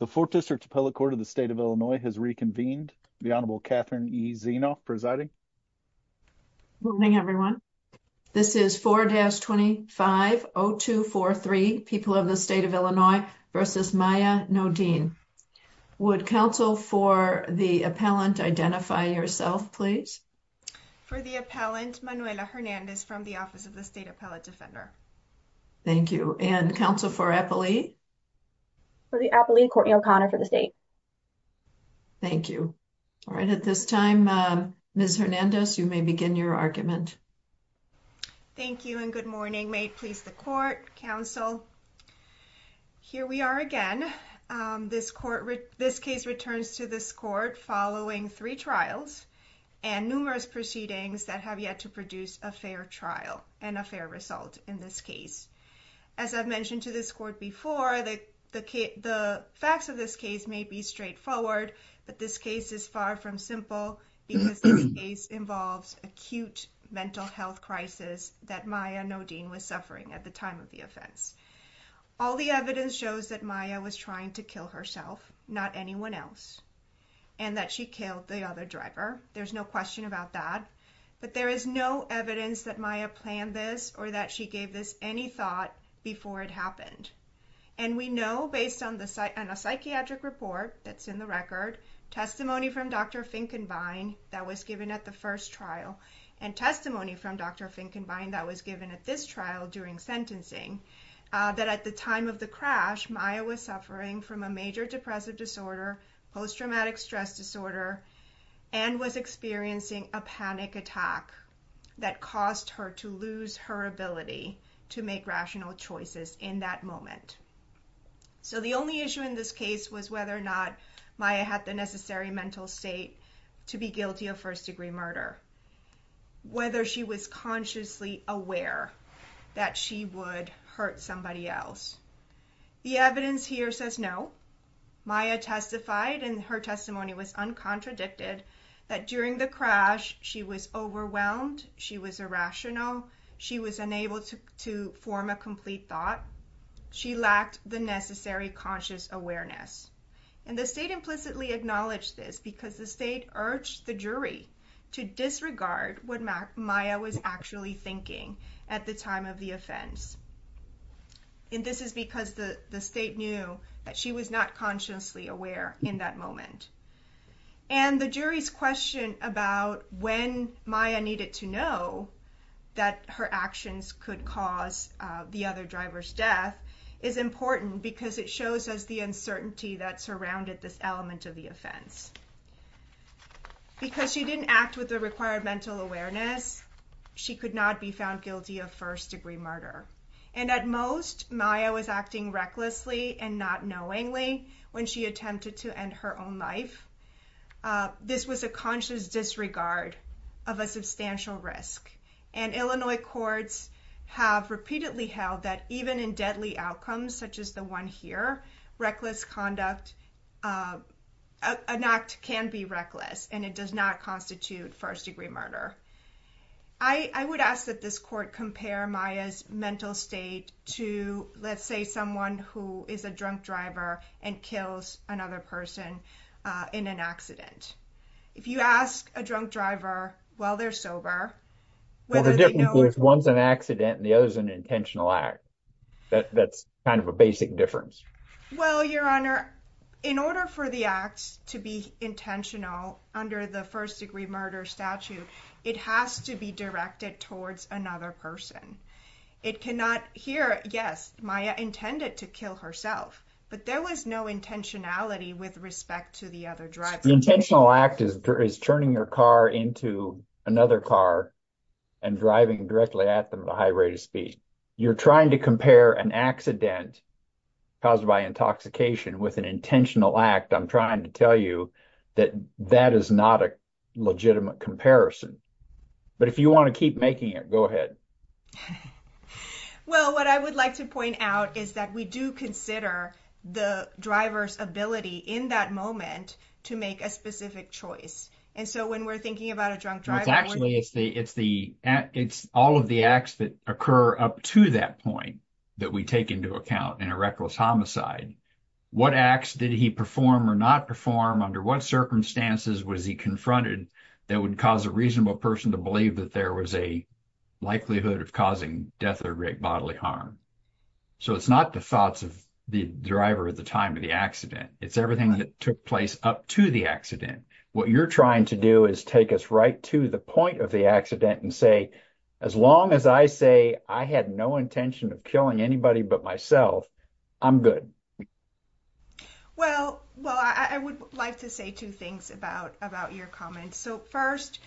The 4th District Appellate Court of the State of Illinois has reconvened. The Honorable Catherine E. Zeno presiding. Good evening, everyone. This is 4-25-0243, People of the State of Illinois v. Maya Nodine. Would counsel for the appellant identify yourself, please? For the appellant, Manuela Hernandez from the Office of the State Appellate Defender. Thank you. And counsel for appellee? For the appellee, Courtney O'Connor for the state. Thank you. All right. At this time, Ms. Hernandez, you may begin your argument. Thank you and good morning. May it please the court, counsel. Here we are again. This case returns to this court following three trials and numerous proceedings that have yet to produce a fair trial and a fair result in this case. As I've mentioned to this court before, the facts of this case may be straightforward, but this case is far from simple because this case involves acute mental health crisis that Maya Nodine was suffering at the time of the offense. All the evidence shows that Maya was trying to kill herself, not anyone else, and that she killed the other driver. There's no question about that, but there is no evidence that Maya planned this or that she gave this any thought before it happened. And we know based on a psychiatric report that's in the record, testimony from Dr. Finkenbein that was given at the first trial and testimony from Dr. Finkenbein that was given at this trial during sentencing, that at the time of the crash, Maya was suffering from a major depressive disorder, post-traumatic stress disorder, and was experiencing a panic attack that caused her to lose her ability to make rational choices in that moment. So the only issue in this case was whether or not Maya had the necessary mental state to be guilty of first-degree murder, whether she was consciously aware that she would hurt somebody else. The evidence here says no. Maya testified, and her testimony was uncontradicted, that during the crash she was overwhelmed, she was irrational, she was unable to form a complete thought. She lacked the necessary conscious awareness. And the state implicitly acknowledged this because the state urged the jury to disregard what Maya was actually thinking at the time of the offense. And this is because the state knew that she was not consciously aware in that moment. And the jury's question about when Maya needed to know that her actions could cause the other driver's death is important because it shows us the uncertainty that surrounded this element of the offense. Because she didn't act with the required mental awareness, she could not be found guilty of first-degree murder. And at most, Maya was acting recklessly and not knowingly when she attempted to end her own life. This was a conscious disregard of a substantial risk. And Illinois courts have repeatedly held that even in deadly outcomes such as the one here, reckless conduct, an act can be reckless and it does not constitute first-degree murder. I would ask that this court compare Maya's mental state to, let's say, someone who is a drunk driver and kills another person in an accident. If you ask a drunk driver while they're sober... Well, the difference is one's an accident and the other's an intentional act. That's kind of a basic difference. Well, Your Honor, in order for the act to be intentional under the first-degree murder statute, it has to be directed towards another person. It cannot... Here, yes, Maya intended to kill herself, but there was no intentionality with respect to the other driver. The intentional act is turning your car into another car and driving directly at them at a high rate of speed. You're trying to compare an accident caused by intoxication with an intentional act. I'm trying to tell you that that is not a legitimate comparison. But if you want to keep making it, go ahead. Well, what I would like to point out is that we do consider the driver's ability in that moment to make a specific choice. Actually, it's all of the acts that occur up to that point that we take into account in a reckless homicide. What acts did he perform or not perform? Under what circumstances was he confronted that would cause a reasonable person to believe that there was a likelihood of causing death or great bodily harm? So it's not the thoughts of the driver at the time of the accident. It's everything that took place up to the accident. What you're trying to do is take us right to the point of the accident and say, as long as I say I had no intention of killing anybody but myself, I'm good. Well, well, I would like to say two things about about your comments. So, first,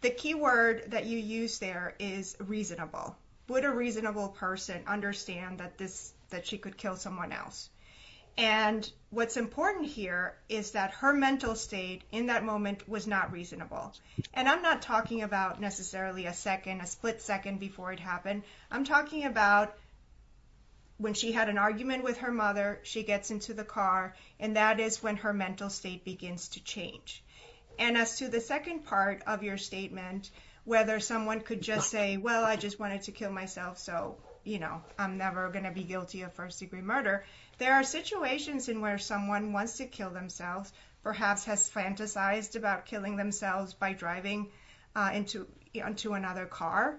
the key word that you use there is reasonable. Would a reasonable person understand that this that she could kill someone else? And what's important here is that her mental state in that moment was not reasonable. And I'm not talking about necessarily a second, a split second before it happened. I'm talking about when she had an argument with her mother, she gets into the car, and that is when her mental state begins to change. And as to the second part of your statement, whether someone could just say, well, I just wanted to kill myself. So, you know, I'm never going to be guilty of first degree murder. There are situations in where someone wants to kill themselves, perhaps has fantasized about killing themselves by driving into onto another car,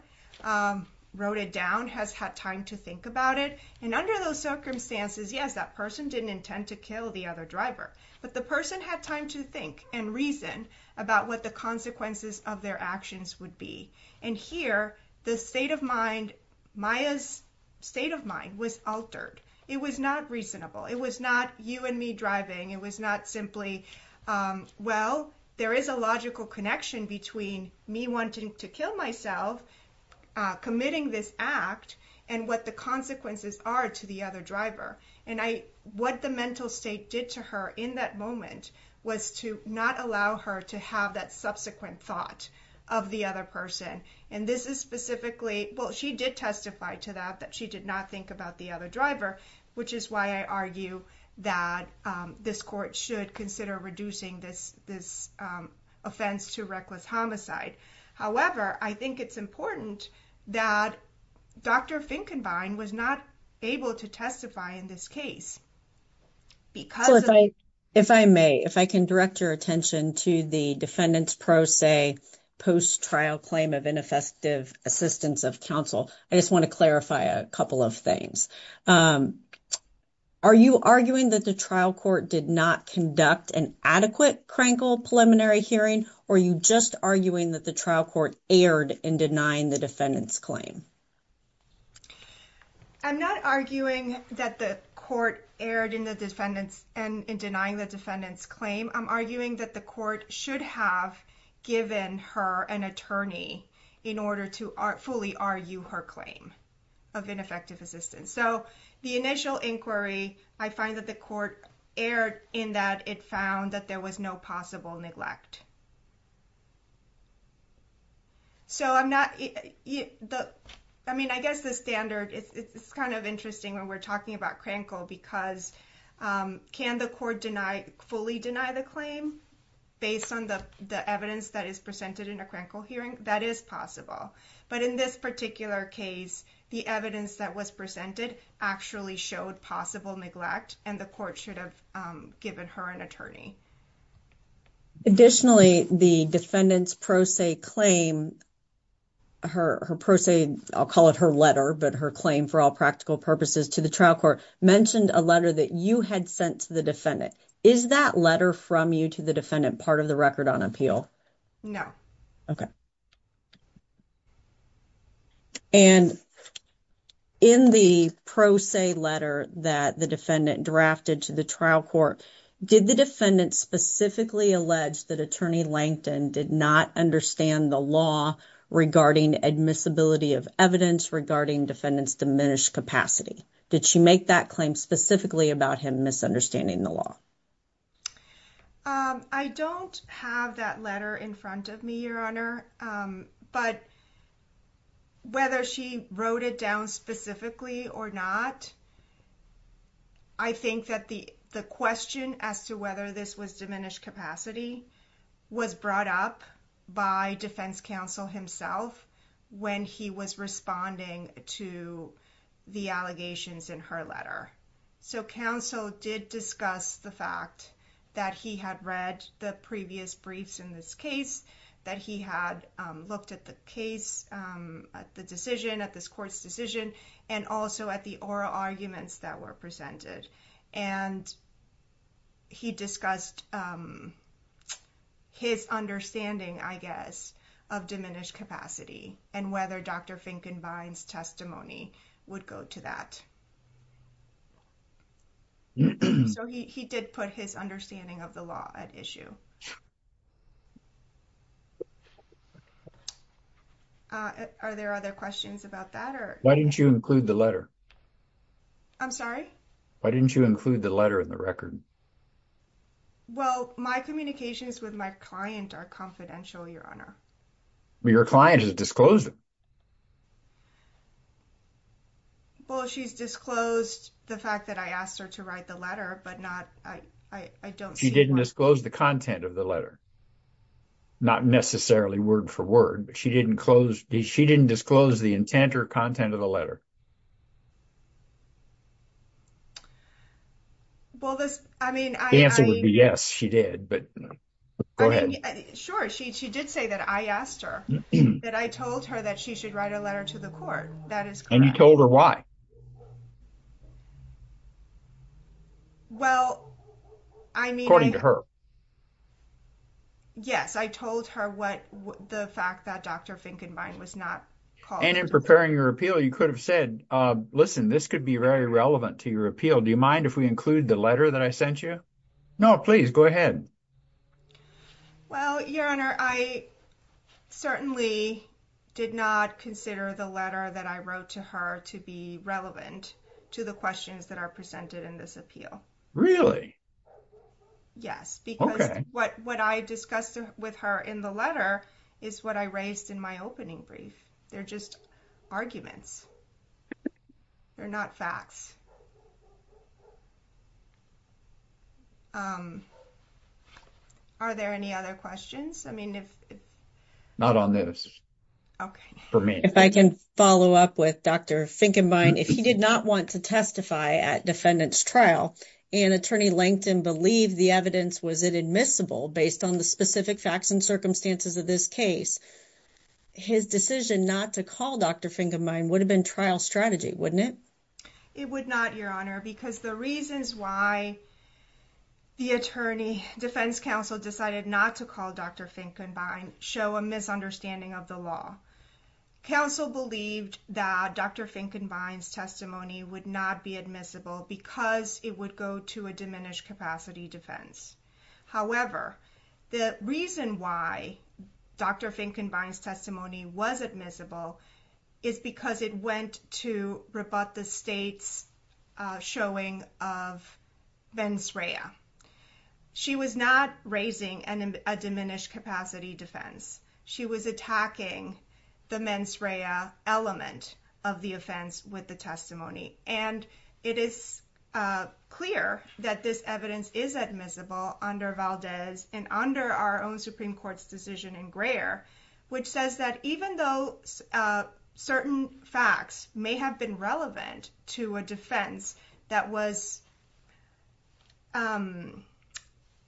wrote it down, has had time to think about it. And under those circumstances, yes, that person didn't intend to kill the other driver. But the person had time to think and reason about what the consequences of their actions would be. And here, the state of mind, Maya's state of mind was altered. It was not reasonable. It was not you and me driving. It was not simply, well, there is a logical connection between me wanting to kill myself, committing this act, and what the consequences are to the other driver. And what the mental state did to her in that moment was to not allow her to have that subsequent thought of the other person. And this is specifically, well, she did testify to that, that she did not think about the other driver, which is why I argue that this court should consider reducing this offense to reckless homicide. However, I think it's important that Dr. Finkenbein was not able to testify in this case. So if I may, if I can direct your attention to the defendant's pro se post-trial claim of ineffective assistance of counsel, I just want to clarify a couple of things. Are you arguing that the trial court did not conduct an adequate Krankel preliminary hearing, or are you just arguing that the trial court erred in denying the defendant's claim? I'm not arguing that the court erred in denying the defendant's claim. I'm arguing that the court should have given her an attorney in order to fully argue her claim of ineffective assistance. So the initial inquiry, I find that the court erred in that it found that there was no possible neglect. So I'm not, I mean, I guess the standard, it's kind of interesting when we're talking about Krankel because can the court deny, fully deny the claim based on the evidence that is presented in a Krankel hearing? That is possible. But in this particular case, the evidence that was presented actually showed possible neglect and the court should have given her an attorney. Additionally, the defendant's pro se claim, her pro se, I'll call it her letter, but her claim for all practical purposes to the trial court mentioned a letter that you had sent to the defendant. Is that letter from you to the defendant part of the record on appeal? No. Okay. And in the pro se letter that the defendant drafted to the trial court, did the defendant specifically allege that attorney Langton did not understand the law regarding admissibility of evidence regarding defendants diminished capacity? Did she make that claim specifically about him misunderstanding the law? I don't have that letter in front of me, Your Honor, but whether she wrote it down specifically or not, I think that the question as to whether this was diminished capacity was brought up by defense counsel himself when he was responding to the allegations in her letter. So counsel did discuss the fact that he had read the previous briefs in this case, that he had looked at the case, at the decision, at this court's decision, and also at the oral arguments that were presented. And he discussed his understanding, I guess, of diminished capacity and whether Dr. Finkenbein's testimony would go to that. So he did put his understanding of the law at issue. Are there other questions about that? Why didn't you include the letter? I'm sorry? Why didn't you include the letter in the record? Well, my communications with my client are confidential, Your Honor. But your client has disclosed it. Well, she's disclosed the fact that I asked her to write the letter, but not, I don't see why. She didn't disclose the content of the letter. Not necessarily word for word, but she didn't disclose the intent or content of the letter. Well, this, I mean, I. The answer would be yes, she did, but go ahead. Sure, she did say that I asked her, that I told her that she should write a letter to the court. That is correct. And you told her why? Well, I mean. According to her. Yes, I told her what the fact that Dr. Finkenbein was not called. And in preparing your appeal, you could have said, listen, this could be very relevant to your appeal. Do you mind if we include the letter that I sent you? No, please go ahead. Well, Your Honor, I certainly did not consider the letter that I wrote to her to be relevant to the questions that are presented in this appeal. Yes, because what I discussed with her in the letter is what I raised in my opening brief. They're just arguments. They're not facts. Are there any other questions? I mean, if not on this. Okay, for me, if I can follow up with Dr. Finkenbein, if he did not want to testify at defendant's trial and attorney LinkedIn believe the evidence, was it admissible based on the specific facts and circumstances of this case? His decision not to call Dr. Finkenbein would have been trial strategy, wouldn't it? It would not, Your Honor, because the reasons why the attorney defense counsel decided not to call Dr. Finkenbein show a misunderstanding of the law. Counsel believed that Dr. Finkenbein's testimony would not be admissible because it would go to a diminished capacity defense. However, the reason why Dr. Finkenbein's testimony was admissible is because it went to rebut the state's showing of mens rea. She was not raising a diminished capacity defense. She was attacking the mens rea element of the offense with the testimony. And it is clear that this evidence is admissible under Valdez and under our own Supreme Court's decision in Greer, which says that even though certain facts may have been relevant to a defense that was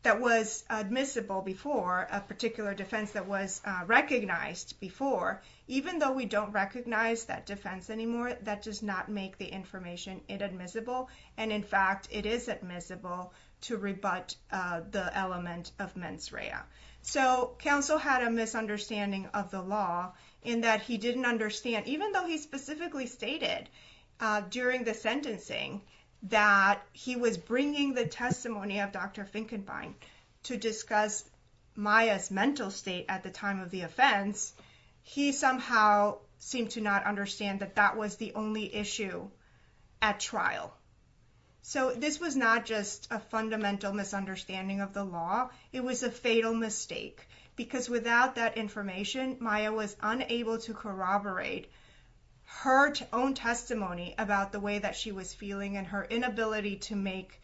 that was admissible before a particular defense that was recognized before. Even though we don't recognize that defense anymore, that does not make the information inadmissible. And in fact, it is admissible to rebut the element of mens rea. So counsel had a misunderstanding of the law in that he didn't understand, even though he specifically stated during the sentencing that he was bringing the testimony of Dr. Finkenbein to discuss Maya's mental state at the time of the offense, he somehow seemed to not understand that that was the only issue at trial. So this was not just a fundamental misunderstanding of the law. It was a fatal mistake because without that information, Maya was unable to corroborate her own testimony about the way that she was feeling and her inability to make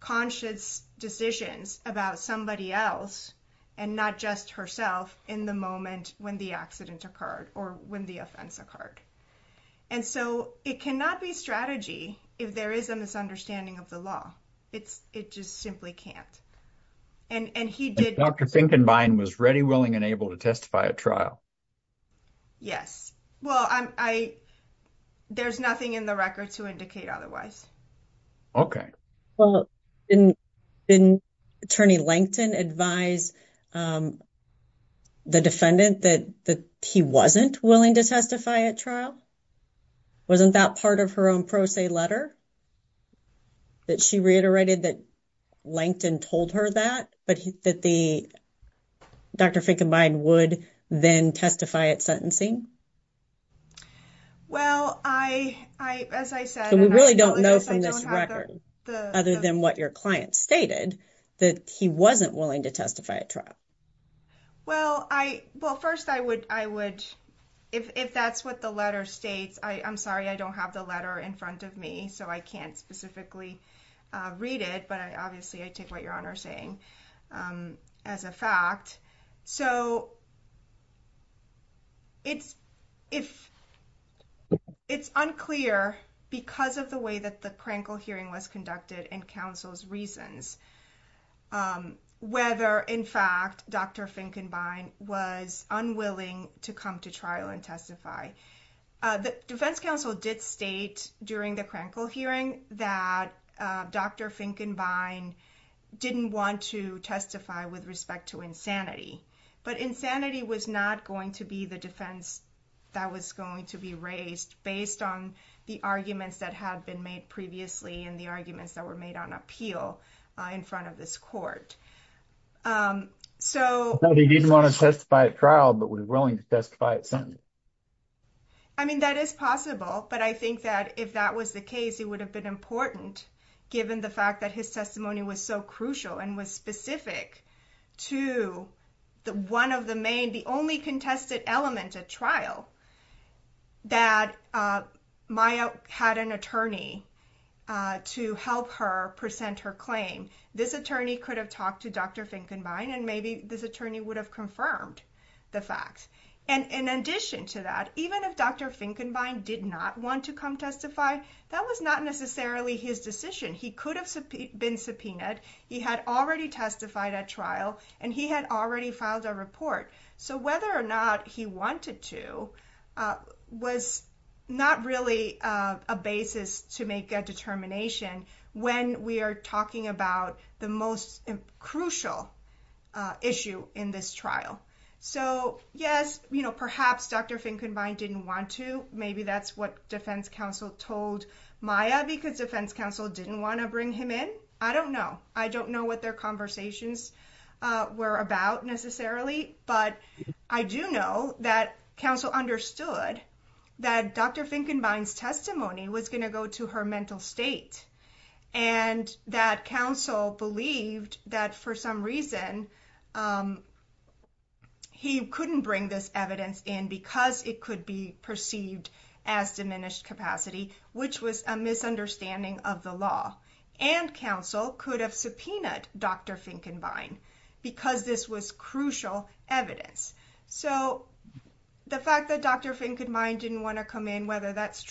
conscious decisions about somebody else and not just herself in the moment when the accident occurred or when the offense occurred. And so it cannot be strategy if there is a misunderstanding of the law. It's it just simply can't. And he did Dr. Finkenbein was ready, willing and able to testify at trial. Yes. Well, I there's nothing in the record to indicate otherwise. Well, didn't didn't attorney Lankton advise the defendant that he wasn't willing to testify at trial? Wasn't that part of her own pro se letter that she reiterated that Lankton told her that, but that the Dr. Finkenbein would then testify at sentencing? Well, I, I, as I said, we really don't know from this record other than what your client stated that he wasn't willing to testify at trial. Well, I well, first, I would I would if if that's what the letter states, I'm sorry, I don't have the letter in front of me, so I can't specifically read it. But obviously, I take what you're saying as a fact. So. It's if it's unclear because of the way that the Krankel hearing was conducted and counsel's reasons, whether, in fact, Dr. Finkenbein was unwilling to come to trial and testify. The defense counsel did state during the Krankel hearing that Dr. Finkenbein didn't want to testify with respect to insanity, but insanity was not going to be the defense that was going to be raised based on the arguments that had been made previously. And the arguments that were made on appeal in front of this court. So he didn't want to testify at trial, but was willing to testify at sentence. I mean, that is possible, but I think that if that was the case, it would have been important, given the fact that his testimony was so crucial and was specific to the one of the main, the only contested element at trial. That Maya had an attorney to help her present her claim, this attorney could have talked to Dr. Finkenbein, and maybe this attorney would have confirmed the facts. And in addition to that, even if Dr. Finkenbein did not want to come testify, that was not necessarily his decision. He could have been subpoenaed. He had already testified at trial, and he had already filed a report. So whether or not he wanted to was not really a basis to make a determination when we are talking about the most crucial issue in this trial. So, yes, perhaps Dr. Finkenbein didn't want to, maybe that's what defense counsel told Maya because defense counsel didn't want to bring him in. I don't know. I don't know what their conversations were about necessarily. But I do know that counsel understood that Dr. Finkenbein's testimony was going to go to her mental state and that counsel believed that for some reason. He couldn't bring this evidence in because it could be perceived as diminished capacity, which was a misunderstanding of the law and counsel could have subpoenaed Dr. Finkenbein's testimony. So, yes, perhaps the defense counsel didn't want to bring this evidence in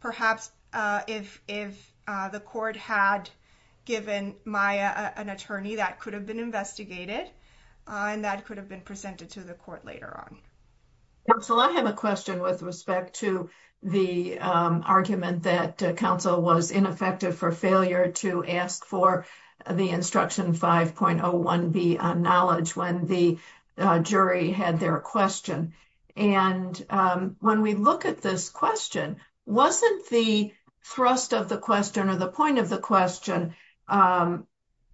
because it could have been perceived as diminished capacity. Finkenbein's testimony was going to go to her mental state and that counsel could have subpoenaed Dr. So, yes, perhaps the defense counsel didn't want to bring this evidence in because it could have been perceived as diminished capacity. And the jury had their question. And when we look at this question, wasn't the thrust of the question or the point of the question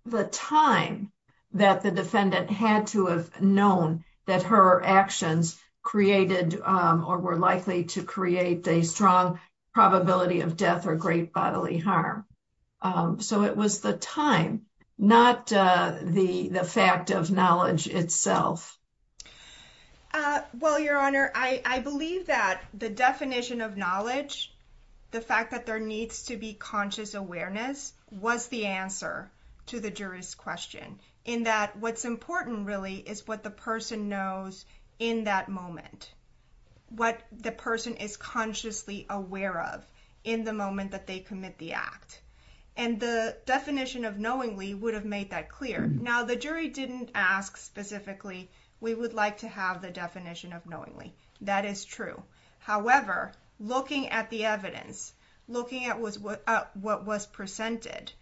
the time that the defendant had to have known that her actions created or were likely to create a strong probability of death or great bodily harm? So it was the time, not the fact of knowledge itself. Well, Your Honor, I believe that the definition of knowledge, the fact that there needs to be conscious awareness was the answer to the jury's question in that what's important really is what the person knows in that moment. What the person is consciously aware of in the moment that they commit the act. And the definition of knowingly would have made that clear. Now, the jury didn't ask specifically, we would like to have the definition of knowingly. That is true. However, looking at the evidence, looking at what was presented,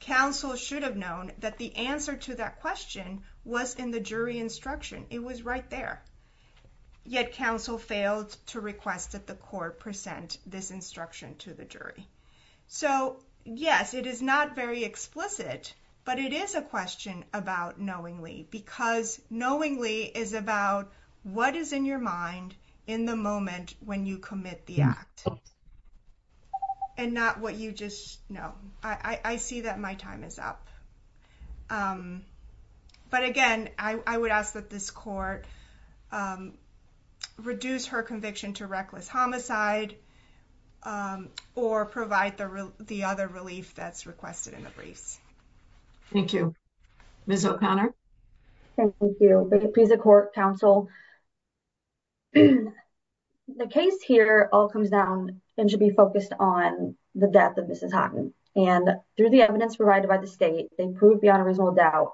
counsel should have known that the answer to that question was in the jury instruction. It was right there. Yet counsel failed to request that the court present this instruction to the jury. So, yes, it is not very explicit, but it is a question about knowingly because knowingly is about what is in your mind in the moment when you commit the act. And not what you just know. I see that my time is up. But again, I would ask that this court reduce her conviction to reckless homicide or provide the other relief that's requested in the briefs. Thank you. Ms. O'Connor. Thank you. Counsel. The case here all comes down and should be focused on the death of Mrs. And through the evidence provided by the state, they proved beyond a reasonable doubt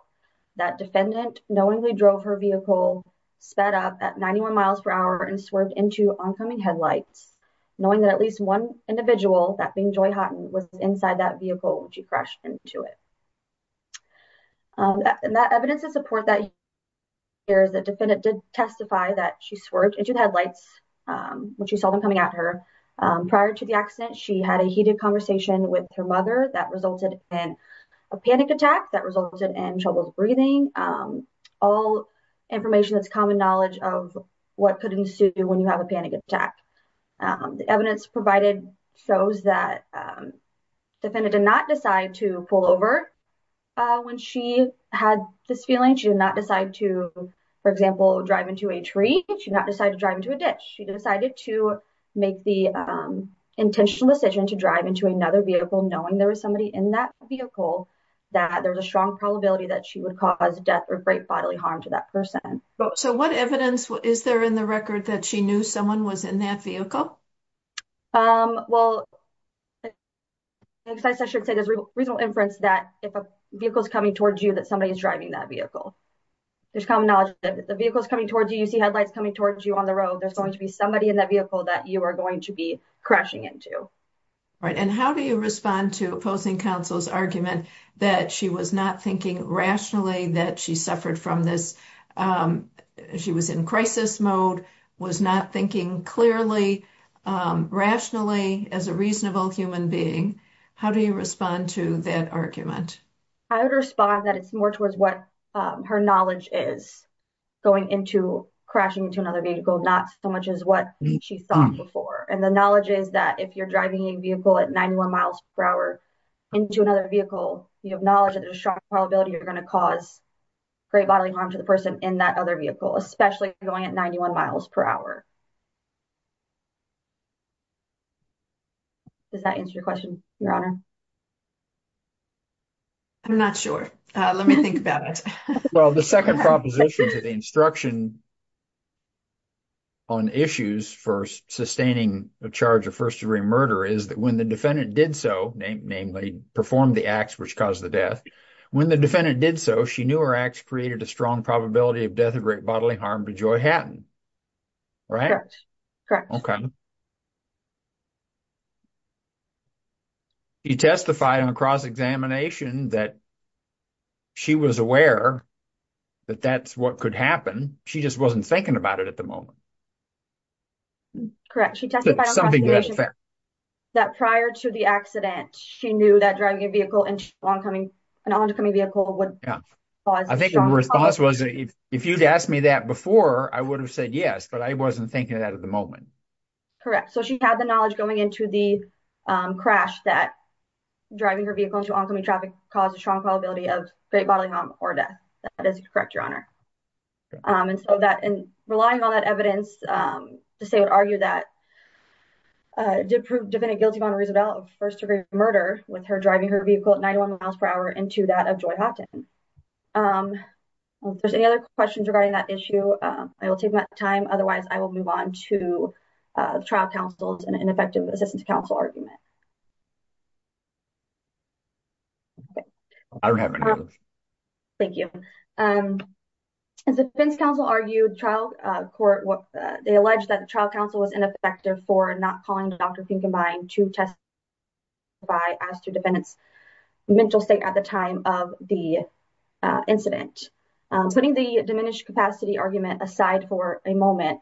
that defendant knowingly drove her vehicle sped up at ninety one miles per hour and swerved into oncoming headlights, knowing that at least one individual that being joy was inside that vehicle. She crashed into it. That evidence is support that. There is a defendant did testify that she swerved into the headlights when she saw them coming at her prior to the accident. She had a heated conversation with her mother that resulted in a panic attack that resulted in trouble breathing. All information that's common knowledge of what could ensue when you have a panic attack. The evidence provided shows that defendant did not decide to pull over when she had this feeling. She did not decide to, for example, drive into a tree. She not decided to drive into a ditch. She decided to make the intentional decision to drive into another vehicle, knowing there was somebody in that vehicle, that there was a strong probability that she would cause death or great bodily harm to that person. So what evidence is there in the record that she knew someone was in that vehicle? Well, I should say there's reasonable inference that if a vehicle is coming towards you, that somebody is driving that vehicle. There's common knowledge that the vehicle is coming towards you. You see headlights coming towards you on the road. There's going to be somebody in that vehicle that you are going to be crashing into. And how do you respond to opposing counsel's argument that she was not thinking rationally that she suffered from this? She was in crisis mode, was not thinking clearly, rationally as a reasonable human being. How do you respond to that argument? I would respond that it's more towards what her knowledge is going into crashing into another vehicle, not so much as what she thought before. And the knowledge is that if you're driving a vehicle at 91 miles per hour into another vehicle, you have knowledge of the strong probability you're going to cause great bodily harm to the person in that other vehicle, especially going at 91 miles per hour. Does that answer your question, Your Honor? I'm not sure. Let me think about it. Well, the second proposition to the instruction on issues for sustaining a charge of first-degree murder is that when the defendant did so, namely performed the acts which caused the death, when the defendant did so, she knew her acts created a strong probability of death of great bodily harm to Joy Hatton. Right? She testified on cross-examination that she was aware that that's what could happen. She just wasn't thinking about it at the moment. Correct. She testified on cross-examination that prior to the accident, she knew that driving a vehicle, an oncoming vehicle would cause a strong probability. I think the response was if you'd asked me that before, I would have said yes, but I wasn't thinking of that at the moment. Correct. So she had the knowledge going into the crash that driving her vehicle into oncoming traffic caused a strong probability of great bodily harm or death. That is correct, Your Honor. Relying on that evidence, I would argue that it did prove the defendant guilty of first-degree murder with her driving her vehicle at 91 miles per hour into that of Joy Hatton. If there's any other questions regarding that issue, I will take my time. Otherwise, I will move on to the trial counsel's and effective assistance counsel argument. I don't have any. Thank you. As the defense counsel argued, trial court, they alleged that the trial counsel was ineffective for not calling Dr. Pinkenbein to testify as to defendant's mental state at the time of the incident. Putting the diminished capacity argument aside for a moment,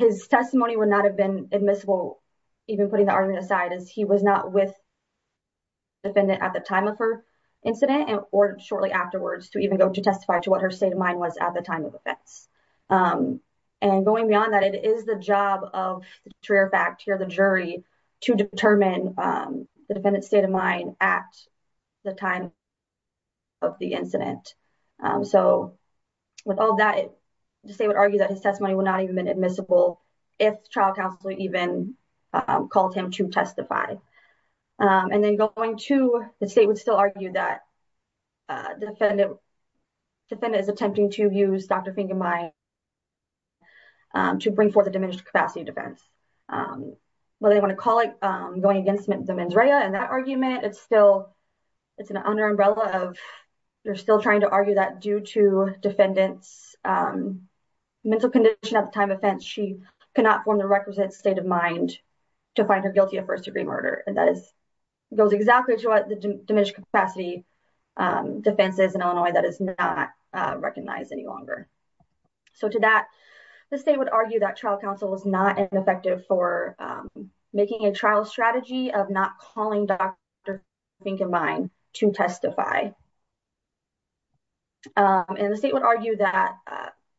his testimony would not have been admissible even putting the argument aside as he was not with the defendant at the time of her incident or shortly afterwards to even go to testify to what her state of mind was at the time of the offense. Going beyond that, it is the job of the jury to determine the defendant's state of mind at the time of the incident. With all that, the state would argue that his testimony would not have even been admissible if trial counsel even called him to testify. And then going to the state would still argue that the defendant is attempting to use Dr. Pinkenbein to bring forth a diminished capacity defense. Well, they want to call it going against the mens rea and that argument, it's still, it's an under umbrella of, they're still trying to argue that due to defendant's mental condition at the time of offense, she cannot form the requisite state of mind to find her guilty of first degree murder. And that is, goes exactly to what the diminished capacity defense is in Illinois that is not recognized any longer. So, to that, the state would argue that trial counsel is not an effective for making a trial strategy of not calling Dr. Pinkenbein to testify. And the state would argue that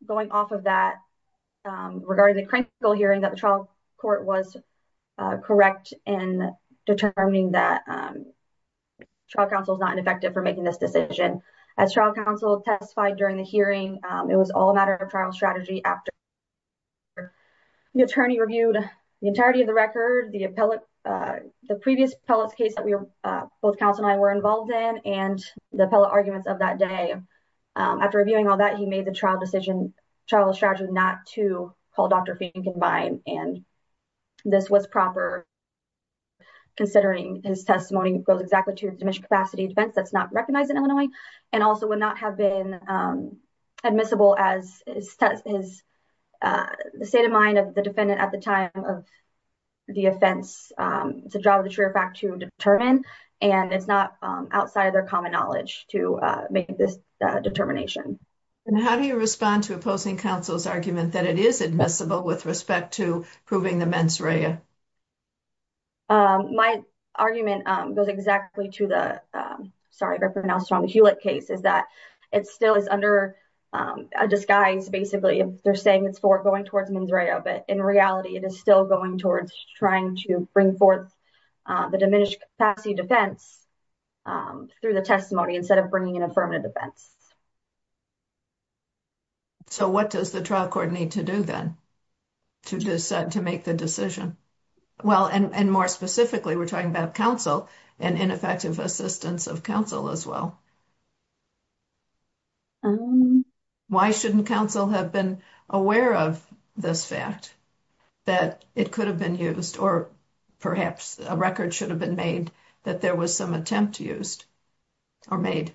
going off of that regarding the hearing that the trial court was correct in determining that trial counsel is not an effective for making this decision. As trial counsel testified during the hearing, it was all a matter of trial strategy after the attorney reviewed the entirety of the record, the appellate, the previous appellate case that we were, both counsel and I were involved in and the appellate arguments of that day. After reviewing all that, he made the trial decision, trial strategy not to call Dr. Pinkenbein. And this was proper, considering his testimony goes exactly to the diminished capacity defense that's not recognized in Illinois and also would not have been admissible as his state of mind of the defendant at the time of the offense. It's a job of the truer fact to determine, and it's not outside of their common knowledge to make this determination. And how do you respond to opposing counsel's argument that it is admissible with respect to proving the mens rea? My argument goes exactly to the Hewlett case is that it still is under a disguise. Basically, they're saying it's for going towards mens rea, but in reality, it is still going towards trying to bring forth the diminished capacity defense through the testimony instead of bringing an affirmative defense. So what does the trial court need to do then to decide to make the decision? Well, and more specifically, we're talking about counsel and ineffective assistance of counsel as well. Why shouldn't counsel have been aware of this fact that it could have been used or perhaps a record should have been made that there was some attempt used or made?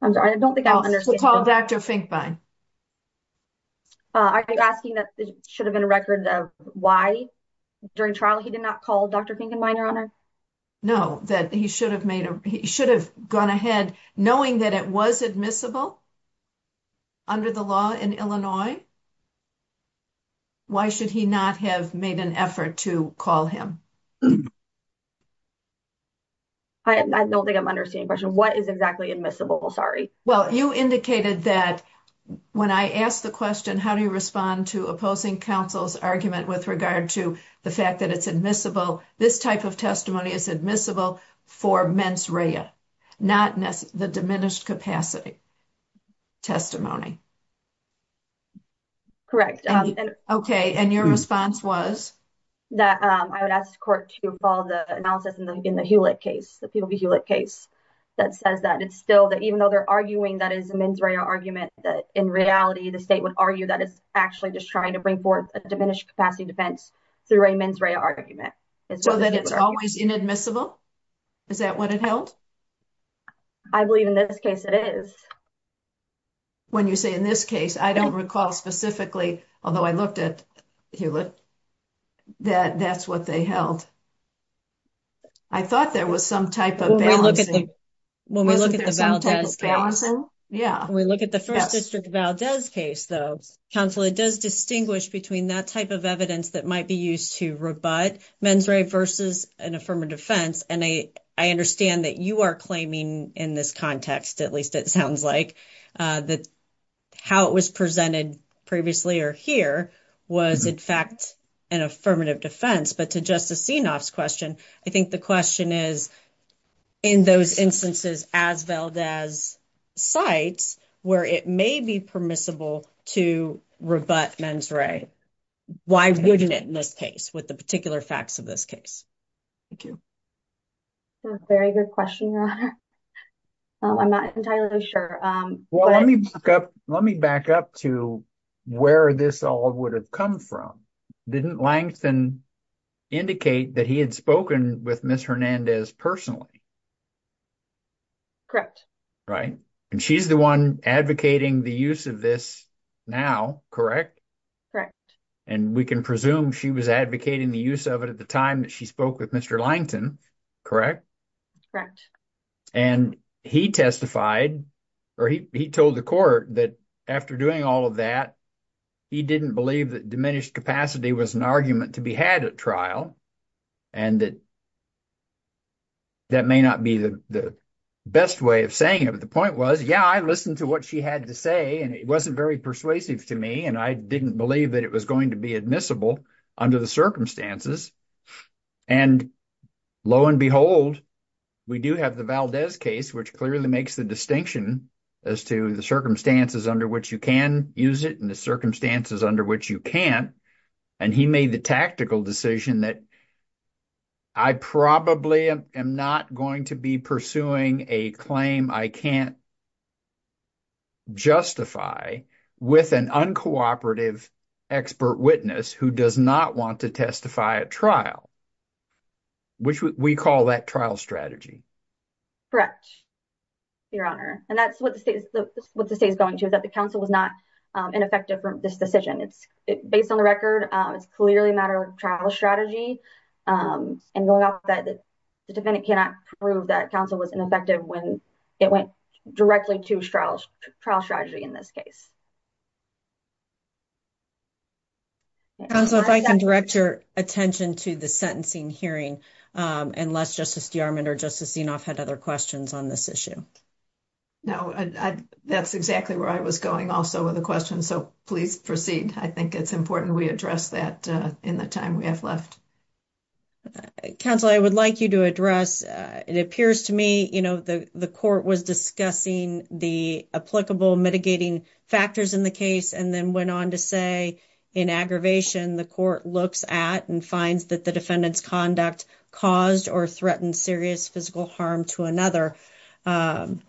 I'm sorry, I don't think I understand. Call Dr. Finkbein. Are you asking that there should have been a record of why during trial he did not call Dr. Finkbein, Your Honor? No, that he should have made, he should have gone ahead knowing that it was admissible under the law in Illinois. Why should he not have made an effort to call him? I don't think I'm understanding the question. What is exactly admissible? Sorry. Well, you indicated that when I asked the question, how do you respond to opposing counsel's argument with regard to the fact that it's admissible? This type of testimony is admissible for mens rea, not the diminished capacity testimony. Correct. Okay. And your response was? That I would ask the court to follow the analysis in the Hewlett case, the Peel v. Hewlett case that says that it's still, that even though they're arguing that is a mens rea argument, that in reality, the state would argue that it's actually just trying to bring forth a diminished capacity defense through a mens rea argument. So that it's always inadmissible? Is that what it held? I believe in this case it is. When you say in this case, I don't recall specifically, although I looked at Hewlett. That that's what they held. I thought there was some type of balancing. When we look at the Valdez case, when we look at the First District Valdez case, though, counsel, it does distinguish between that type of evidence that might be used to rebut mens rea versus an affirmative defense. And I understand that you are claiming in this context, at least it sounds like, that how it was presented previously or here was, in fact, an affirmative defense. But to Justice Senoff's question, I think the question is, in those instances as Valdez cites, where it may be permissible to rebut mens rea, why wouldn't it in this case with the particular facts of this case? Thank you. Very good question, Your Honor. I'm not entirely sure. Well, let me back up to where this all would have come from. Didn't Langston indicate that he had spoken with Ms. Hernandez personally? Correct. Right. And she's the one advocating the use of this now, correct? Correct. And we can presume she was advocating the use of it at the time that she spoke with Mr. Langston, correct? Correct. And he testified or he told the court that after doing all of that, he didn't believe that diminished capacity was an argument to be had at trial. And that may not be the best way of saying it, but the point was, yeah, I listened to what she had to say, and it wasn't very persuasive to me, and I didn't believe that it was going to be admissible under the circumstances. And lo and behold, we do have the Valdez case, which clearly makes the distinction as to the circumstances under which you can use it and the circumstances under which you can't. And he made the tactical decision that I probably am not going to be pursuing a claim I can't justify with an uncooperative expert witness who does not want to testify at trial, which we call that trial strategy. Correct, Your Honor. And that's what the state is going to, that the counsel was not ineffective from this decision. It's based on the record. It's clearly a matter of trial strategy. And going off that, the defendant cannot prove that counsel was ineffective when it went directly to trial strategy in this case. Counsel, if I can direct your attention to the sentencing hearing, unless Justice DeArmond or Justice Zinoff had other questions on this issue. No, that's exactly where I was going also with the question, so please proceed. I think it's important we address that in the time we have left. Counsel, I would like you to address, it appears to me, you know, the court was discussing the applicable mitigating factors in the case and then went on to say in aggravation, the court looks at and finds that the defendant's conduct caused or threatened serious physical harm to another. And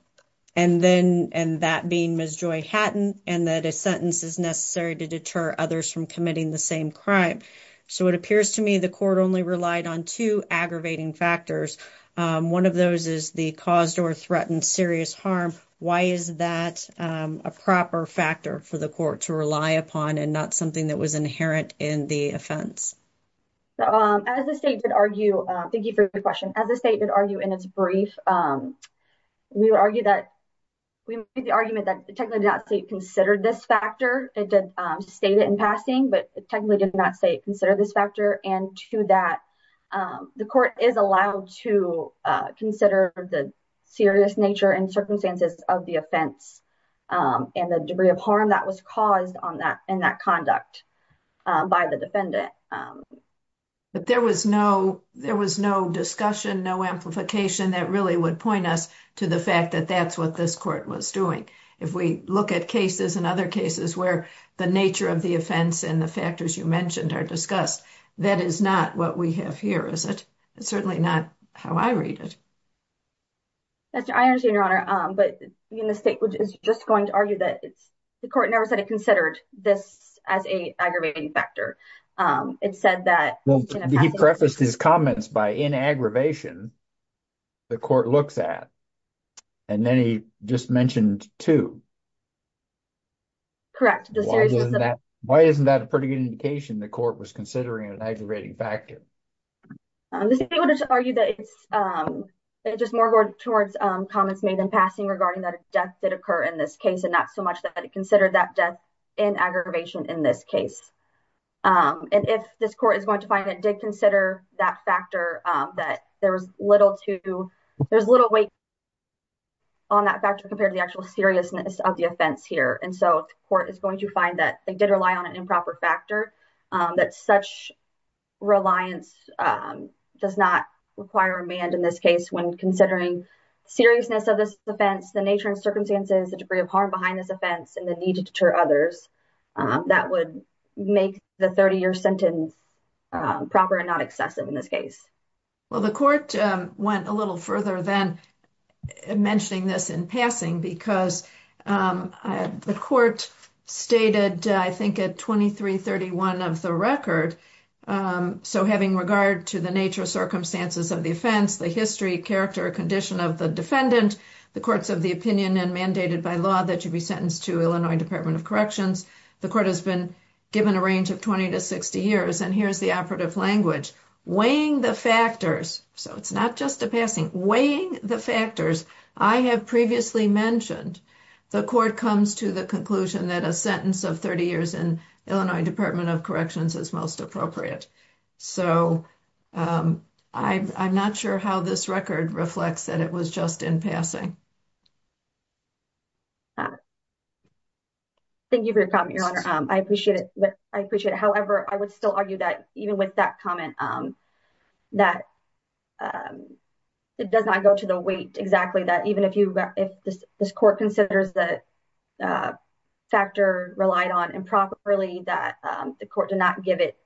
that being Ms. Joy Hatton, and that a sentence is necessary to deter others from committing the same crime. So it appears to me the court only relied on two aggravating factors. One of those is the caused or threatened serious harm. Why is that a proper factor for the court to rely upon and not something that was inherent in the offense? As the state did argue, thank you for your question. As the state did argue in its brief, we would argue that, we made the argument that technically the state did not consider this factor. It did state it in passing, but technically did not say it considered this factor. And to that, the court is allowed to consider the serious nature and circumstances of the offense and the debris of harm that was caused in that conduct by the defendant. But there was no, there was no discussion, no amplification that really would point us to the fact that that's what this court was doing. If we look at cases and other cases where the nature of the offense and the factors you mentioned are discussed, that is not what we have here, is it? It's certainly not how I read it. I understand, Your Honor, but the state is just going to argue that the court never said it considered this as an aggravating factor. It said that… He prefaced his comments by, in aggravation, the court looks at. And then he just mentioned two. Correct. Why isn't that a pretty good indication the court was considering an aggravating factor? The state would argue that it's just more towards comments made in passing regarding the death that occurred in this case and not so much that it considered that death in aggravation in this case. And if this court is going to find it did consider that factor, that there was little to, there's little weight on that factor compared to the actual seriousness of the offense here. And so the court is going to find that they did rely on an improper factor, that such reliance does not require remand in this case when considering seriousness of this offense, the nature and circumstances, the degree of harm behind this offense, and the need to deter others. That would make the 30-year sentence proper and not excessive in this case. Well, the court went a little further than mentioning this in passing because the court stated, I think, at 2331 of the record. So having regard to the nature of circumstances of the offense, the history, character, condition of the defendant, the courts of the opinion and mandated by law that you be sentenced to Illinois Department of Corrections. The court has been given a range of 20 to 60 years, and here's the operative language, weighing the factors. So it's not just a passing, weighing the factors. I have previously mentioned the court comes to the conclusion that a sentence of 30 years in Illinois Department of Corrections is most appropriate. So I'm not sure how this record reflects that it was just in passing. Thank you for your comment, Your Honor. I appreciate it. However, I would still argue that even with that comment, that it does not go to the weight exactly that even if this court considers the factor relied on improperly, that the court did not give it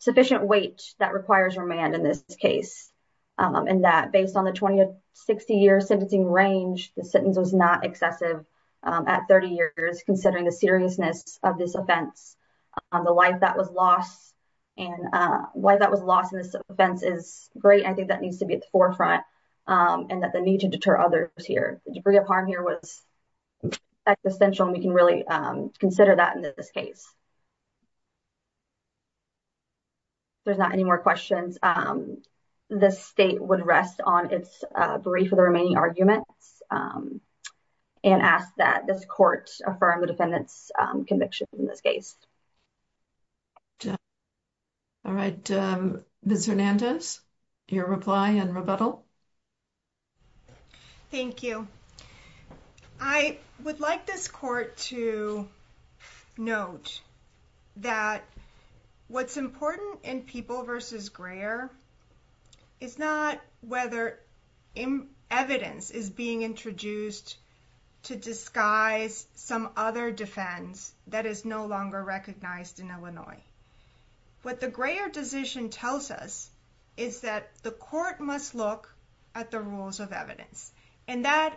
sufficient weight that requires remand in this case. And that based on the 20 to 60 year sentencing range, the sentence was not excessive at 30 years considering the seriousness of this offense. The life that was lost and why that was lost in this offense is great. I think that needs to be at the forefront and that the need to deter others here. The degree of harm here was existential, and we can really consider that in this case. If there's not any more questions, the state would rest on its brief of the remaining arguments and ask that this court affirm the defendant's conviction in this case. All right, Ms. Hernandez, your reply and rebuttal. Thank you. I would like this court to note that what's important in People v. Greyer is not whether evidence is being introduced to disguise some other defense that is no longer recognized in Illinois. What the Greyer decision tells us is that the court must look at the rules of evidence, and that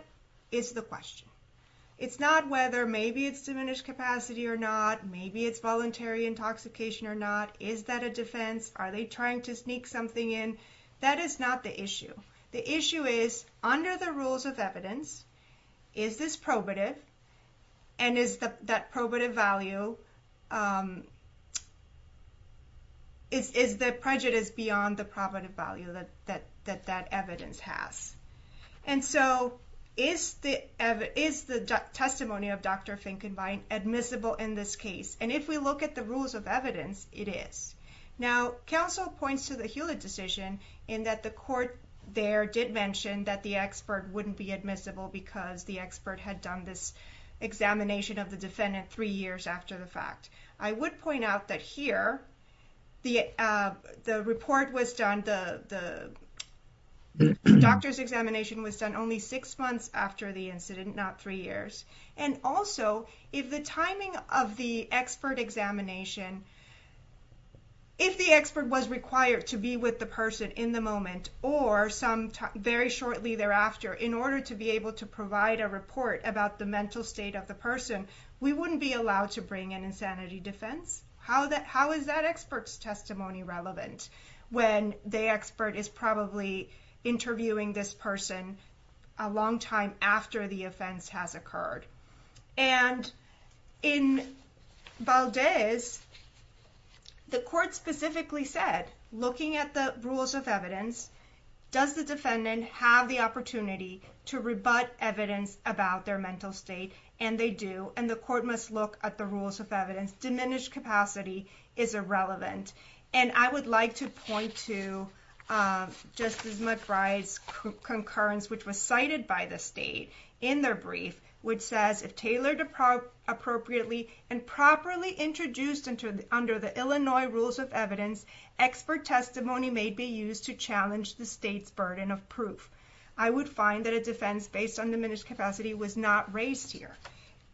is the question. It's not whether maybe it's diminished capacity or not. Maybe it's voluntary intoxication or not. Is that a defense? Are they trying to sneak something in? That is not the issue. The issue is, under the rules of evidence, is this probative, and is that probative value, is the prejudice beyond the probative value that that evidence has? And so, is the testimony of Dr. Finkenbein admissible in this case? And if we look at the rules of evidence, it is. Now, counsel points to the Hewlett decision in that the court there did mention that the expert wouldn't be admissible because the expert had done this examination of the defendant three years after the fact. I would point out that here, the report was done, the doctor's examination was done only six months after the incident, not three years. And also, if the timing of the expert examination, if the expert was required to be with the person in the moment or very shortly thereafter in order to be able to provide a report about the mental state of the person, we wouldn't be allowed to bring an insanity defense. How is that expert's testimony relevant when the expert is probably interviewing this person a long time after the offense has occurred? And in Valdez, the court specifically said, looking at the rules of evidence, does the defendant have the opportunity to rebut evidence about their mental state? And they do, and the court must look at the rules of evidence. Diminished capacity is irrelevant, and I would like to point to Justice McBride's concurrence, which was cited by the state in their brief, which says, if tailored appropriately and properly introduced under the Illinois rules of evidence, expert testimony may be used to challenge the state's burden of proof. I would find that a defense based on diminished capacity was not raised here.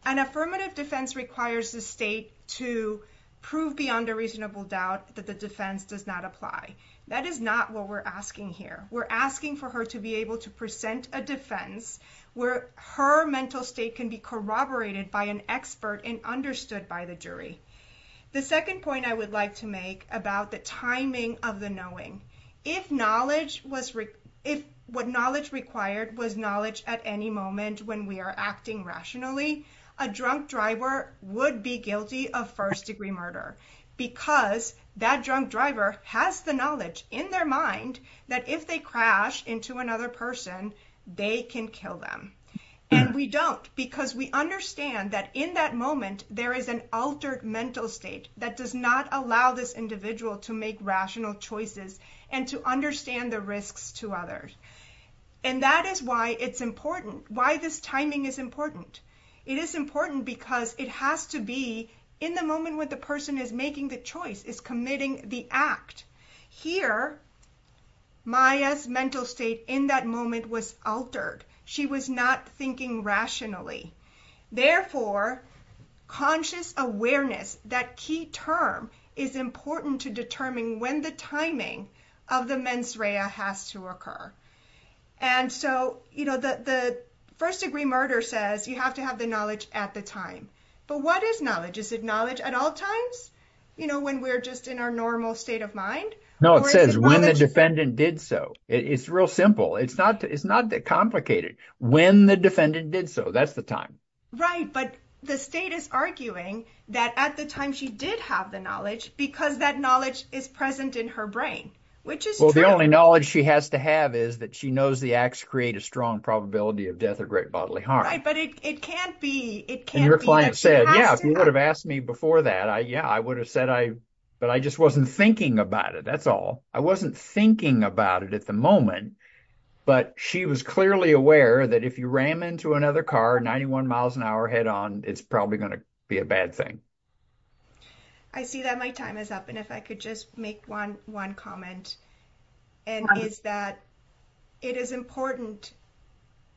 An affirmative defense requires the state to prove beyond a reasonable doubt that the defense does not apply. That is not what we're asking here. We're asking for her to be able to present a defense where her mental state can be corroborated by an expert and understood by the jury. The second point I would like to make about the timing of the knowing. If what knowledge required was knowledge at any moment when we are acting rationally, a drunk driver would be guilty of first degree murder because that drunk driver has the knowledge in their mind that if they crash into another person, they can kill them. And we don't because we understand that in that moment, there is an altered mental state that does not allow this individual to make rational choices and to understand the risks to others. And that is why it's important, why this timing is important. It is important because it has to be in the moment when the person is making the choice, is committing the act. Here, Maya's mental state in that moment was altered. She was not thinking rationally. Therefore, conscious awareness, that key term, is important to determine when the timing of the mens rea has to occur. And so, you know, the first degree murder says you have to have the knowledge at the time. But what is knowledge? Is it knowledge at all times? You know, when we're just in our normal state of mind? No, it says when the defendant did so. It's real simple. It's not complicated. When the defendant did so, that's the time. Right, but the state is arguing that at the time she did have the knowledge because that knowledge is present in her brain, which is true. That's all. I wasn't thinking about it at the moment, but she was clearly aware that if you ran into another car 91 miles an hour head on, it's probably going to be a bad thing. I see that my time is up. And if I could just make one, one comment, and is that it is important,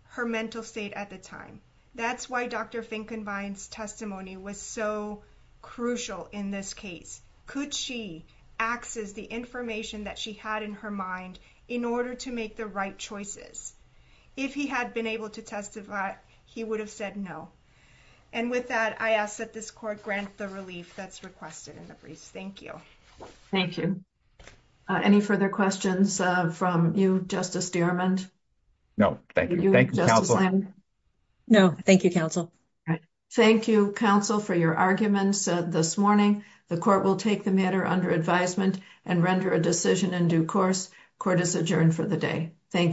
her mental state at the time. That's why Dr. Finkenbein's testimony was so crucial in this case. Could she access the information that she had in her mind in order to make the right choices? If he had been able to testify, he would have said no. And with that, I ask that this court grant the relief that's requested in the briefs. Thank you. Thank you. Any further questions from you, Justice Dearmond? No, thank you. Thank you, counsel. No, thank you, counsel. Thank you, counsel, for your arguments this morning. The court will take the matter under advisement and render a decision in due course. Court is adjourned for the day. Thank you.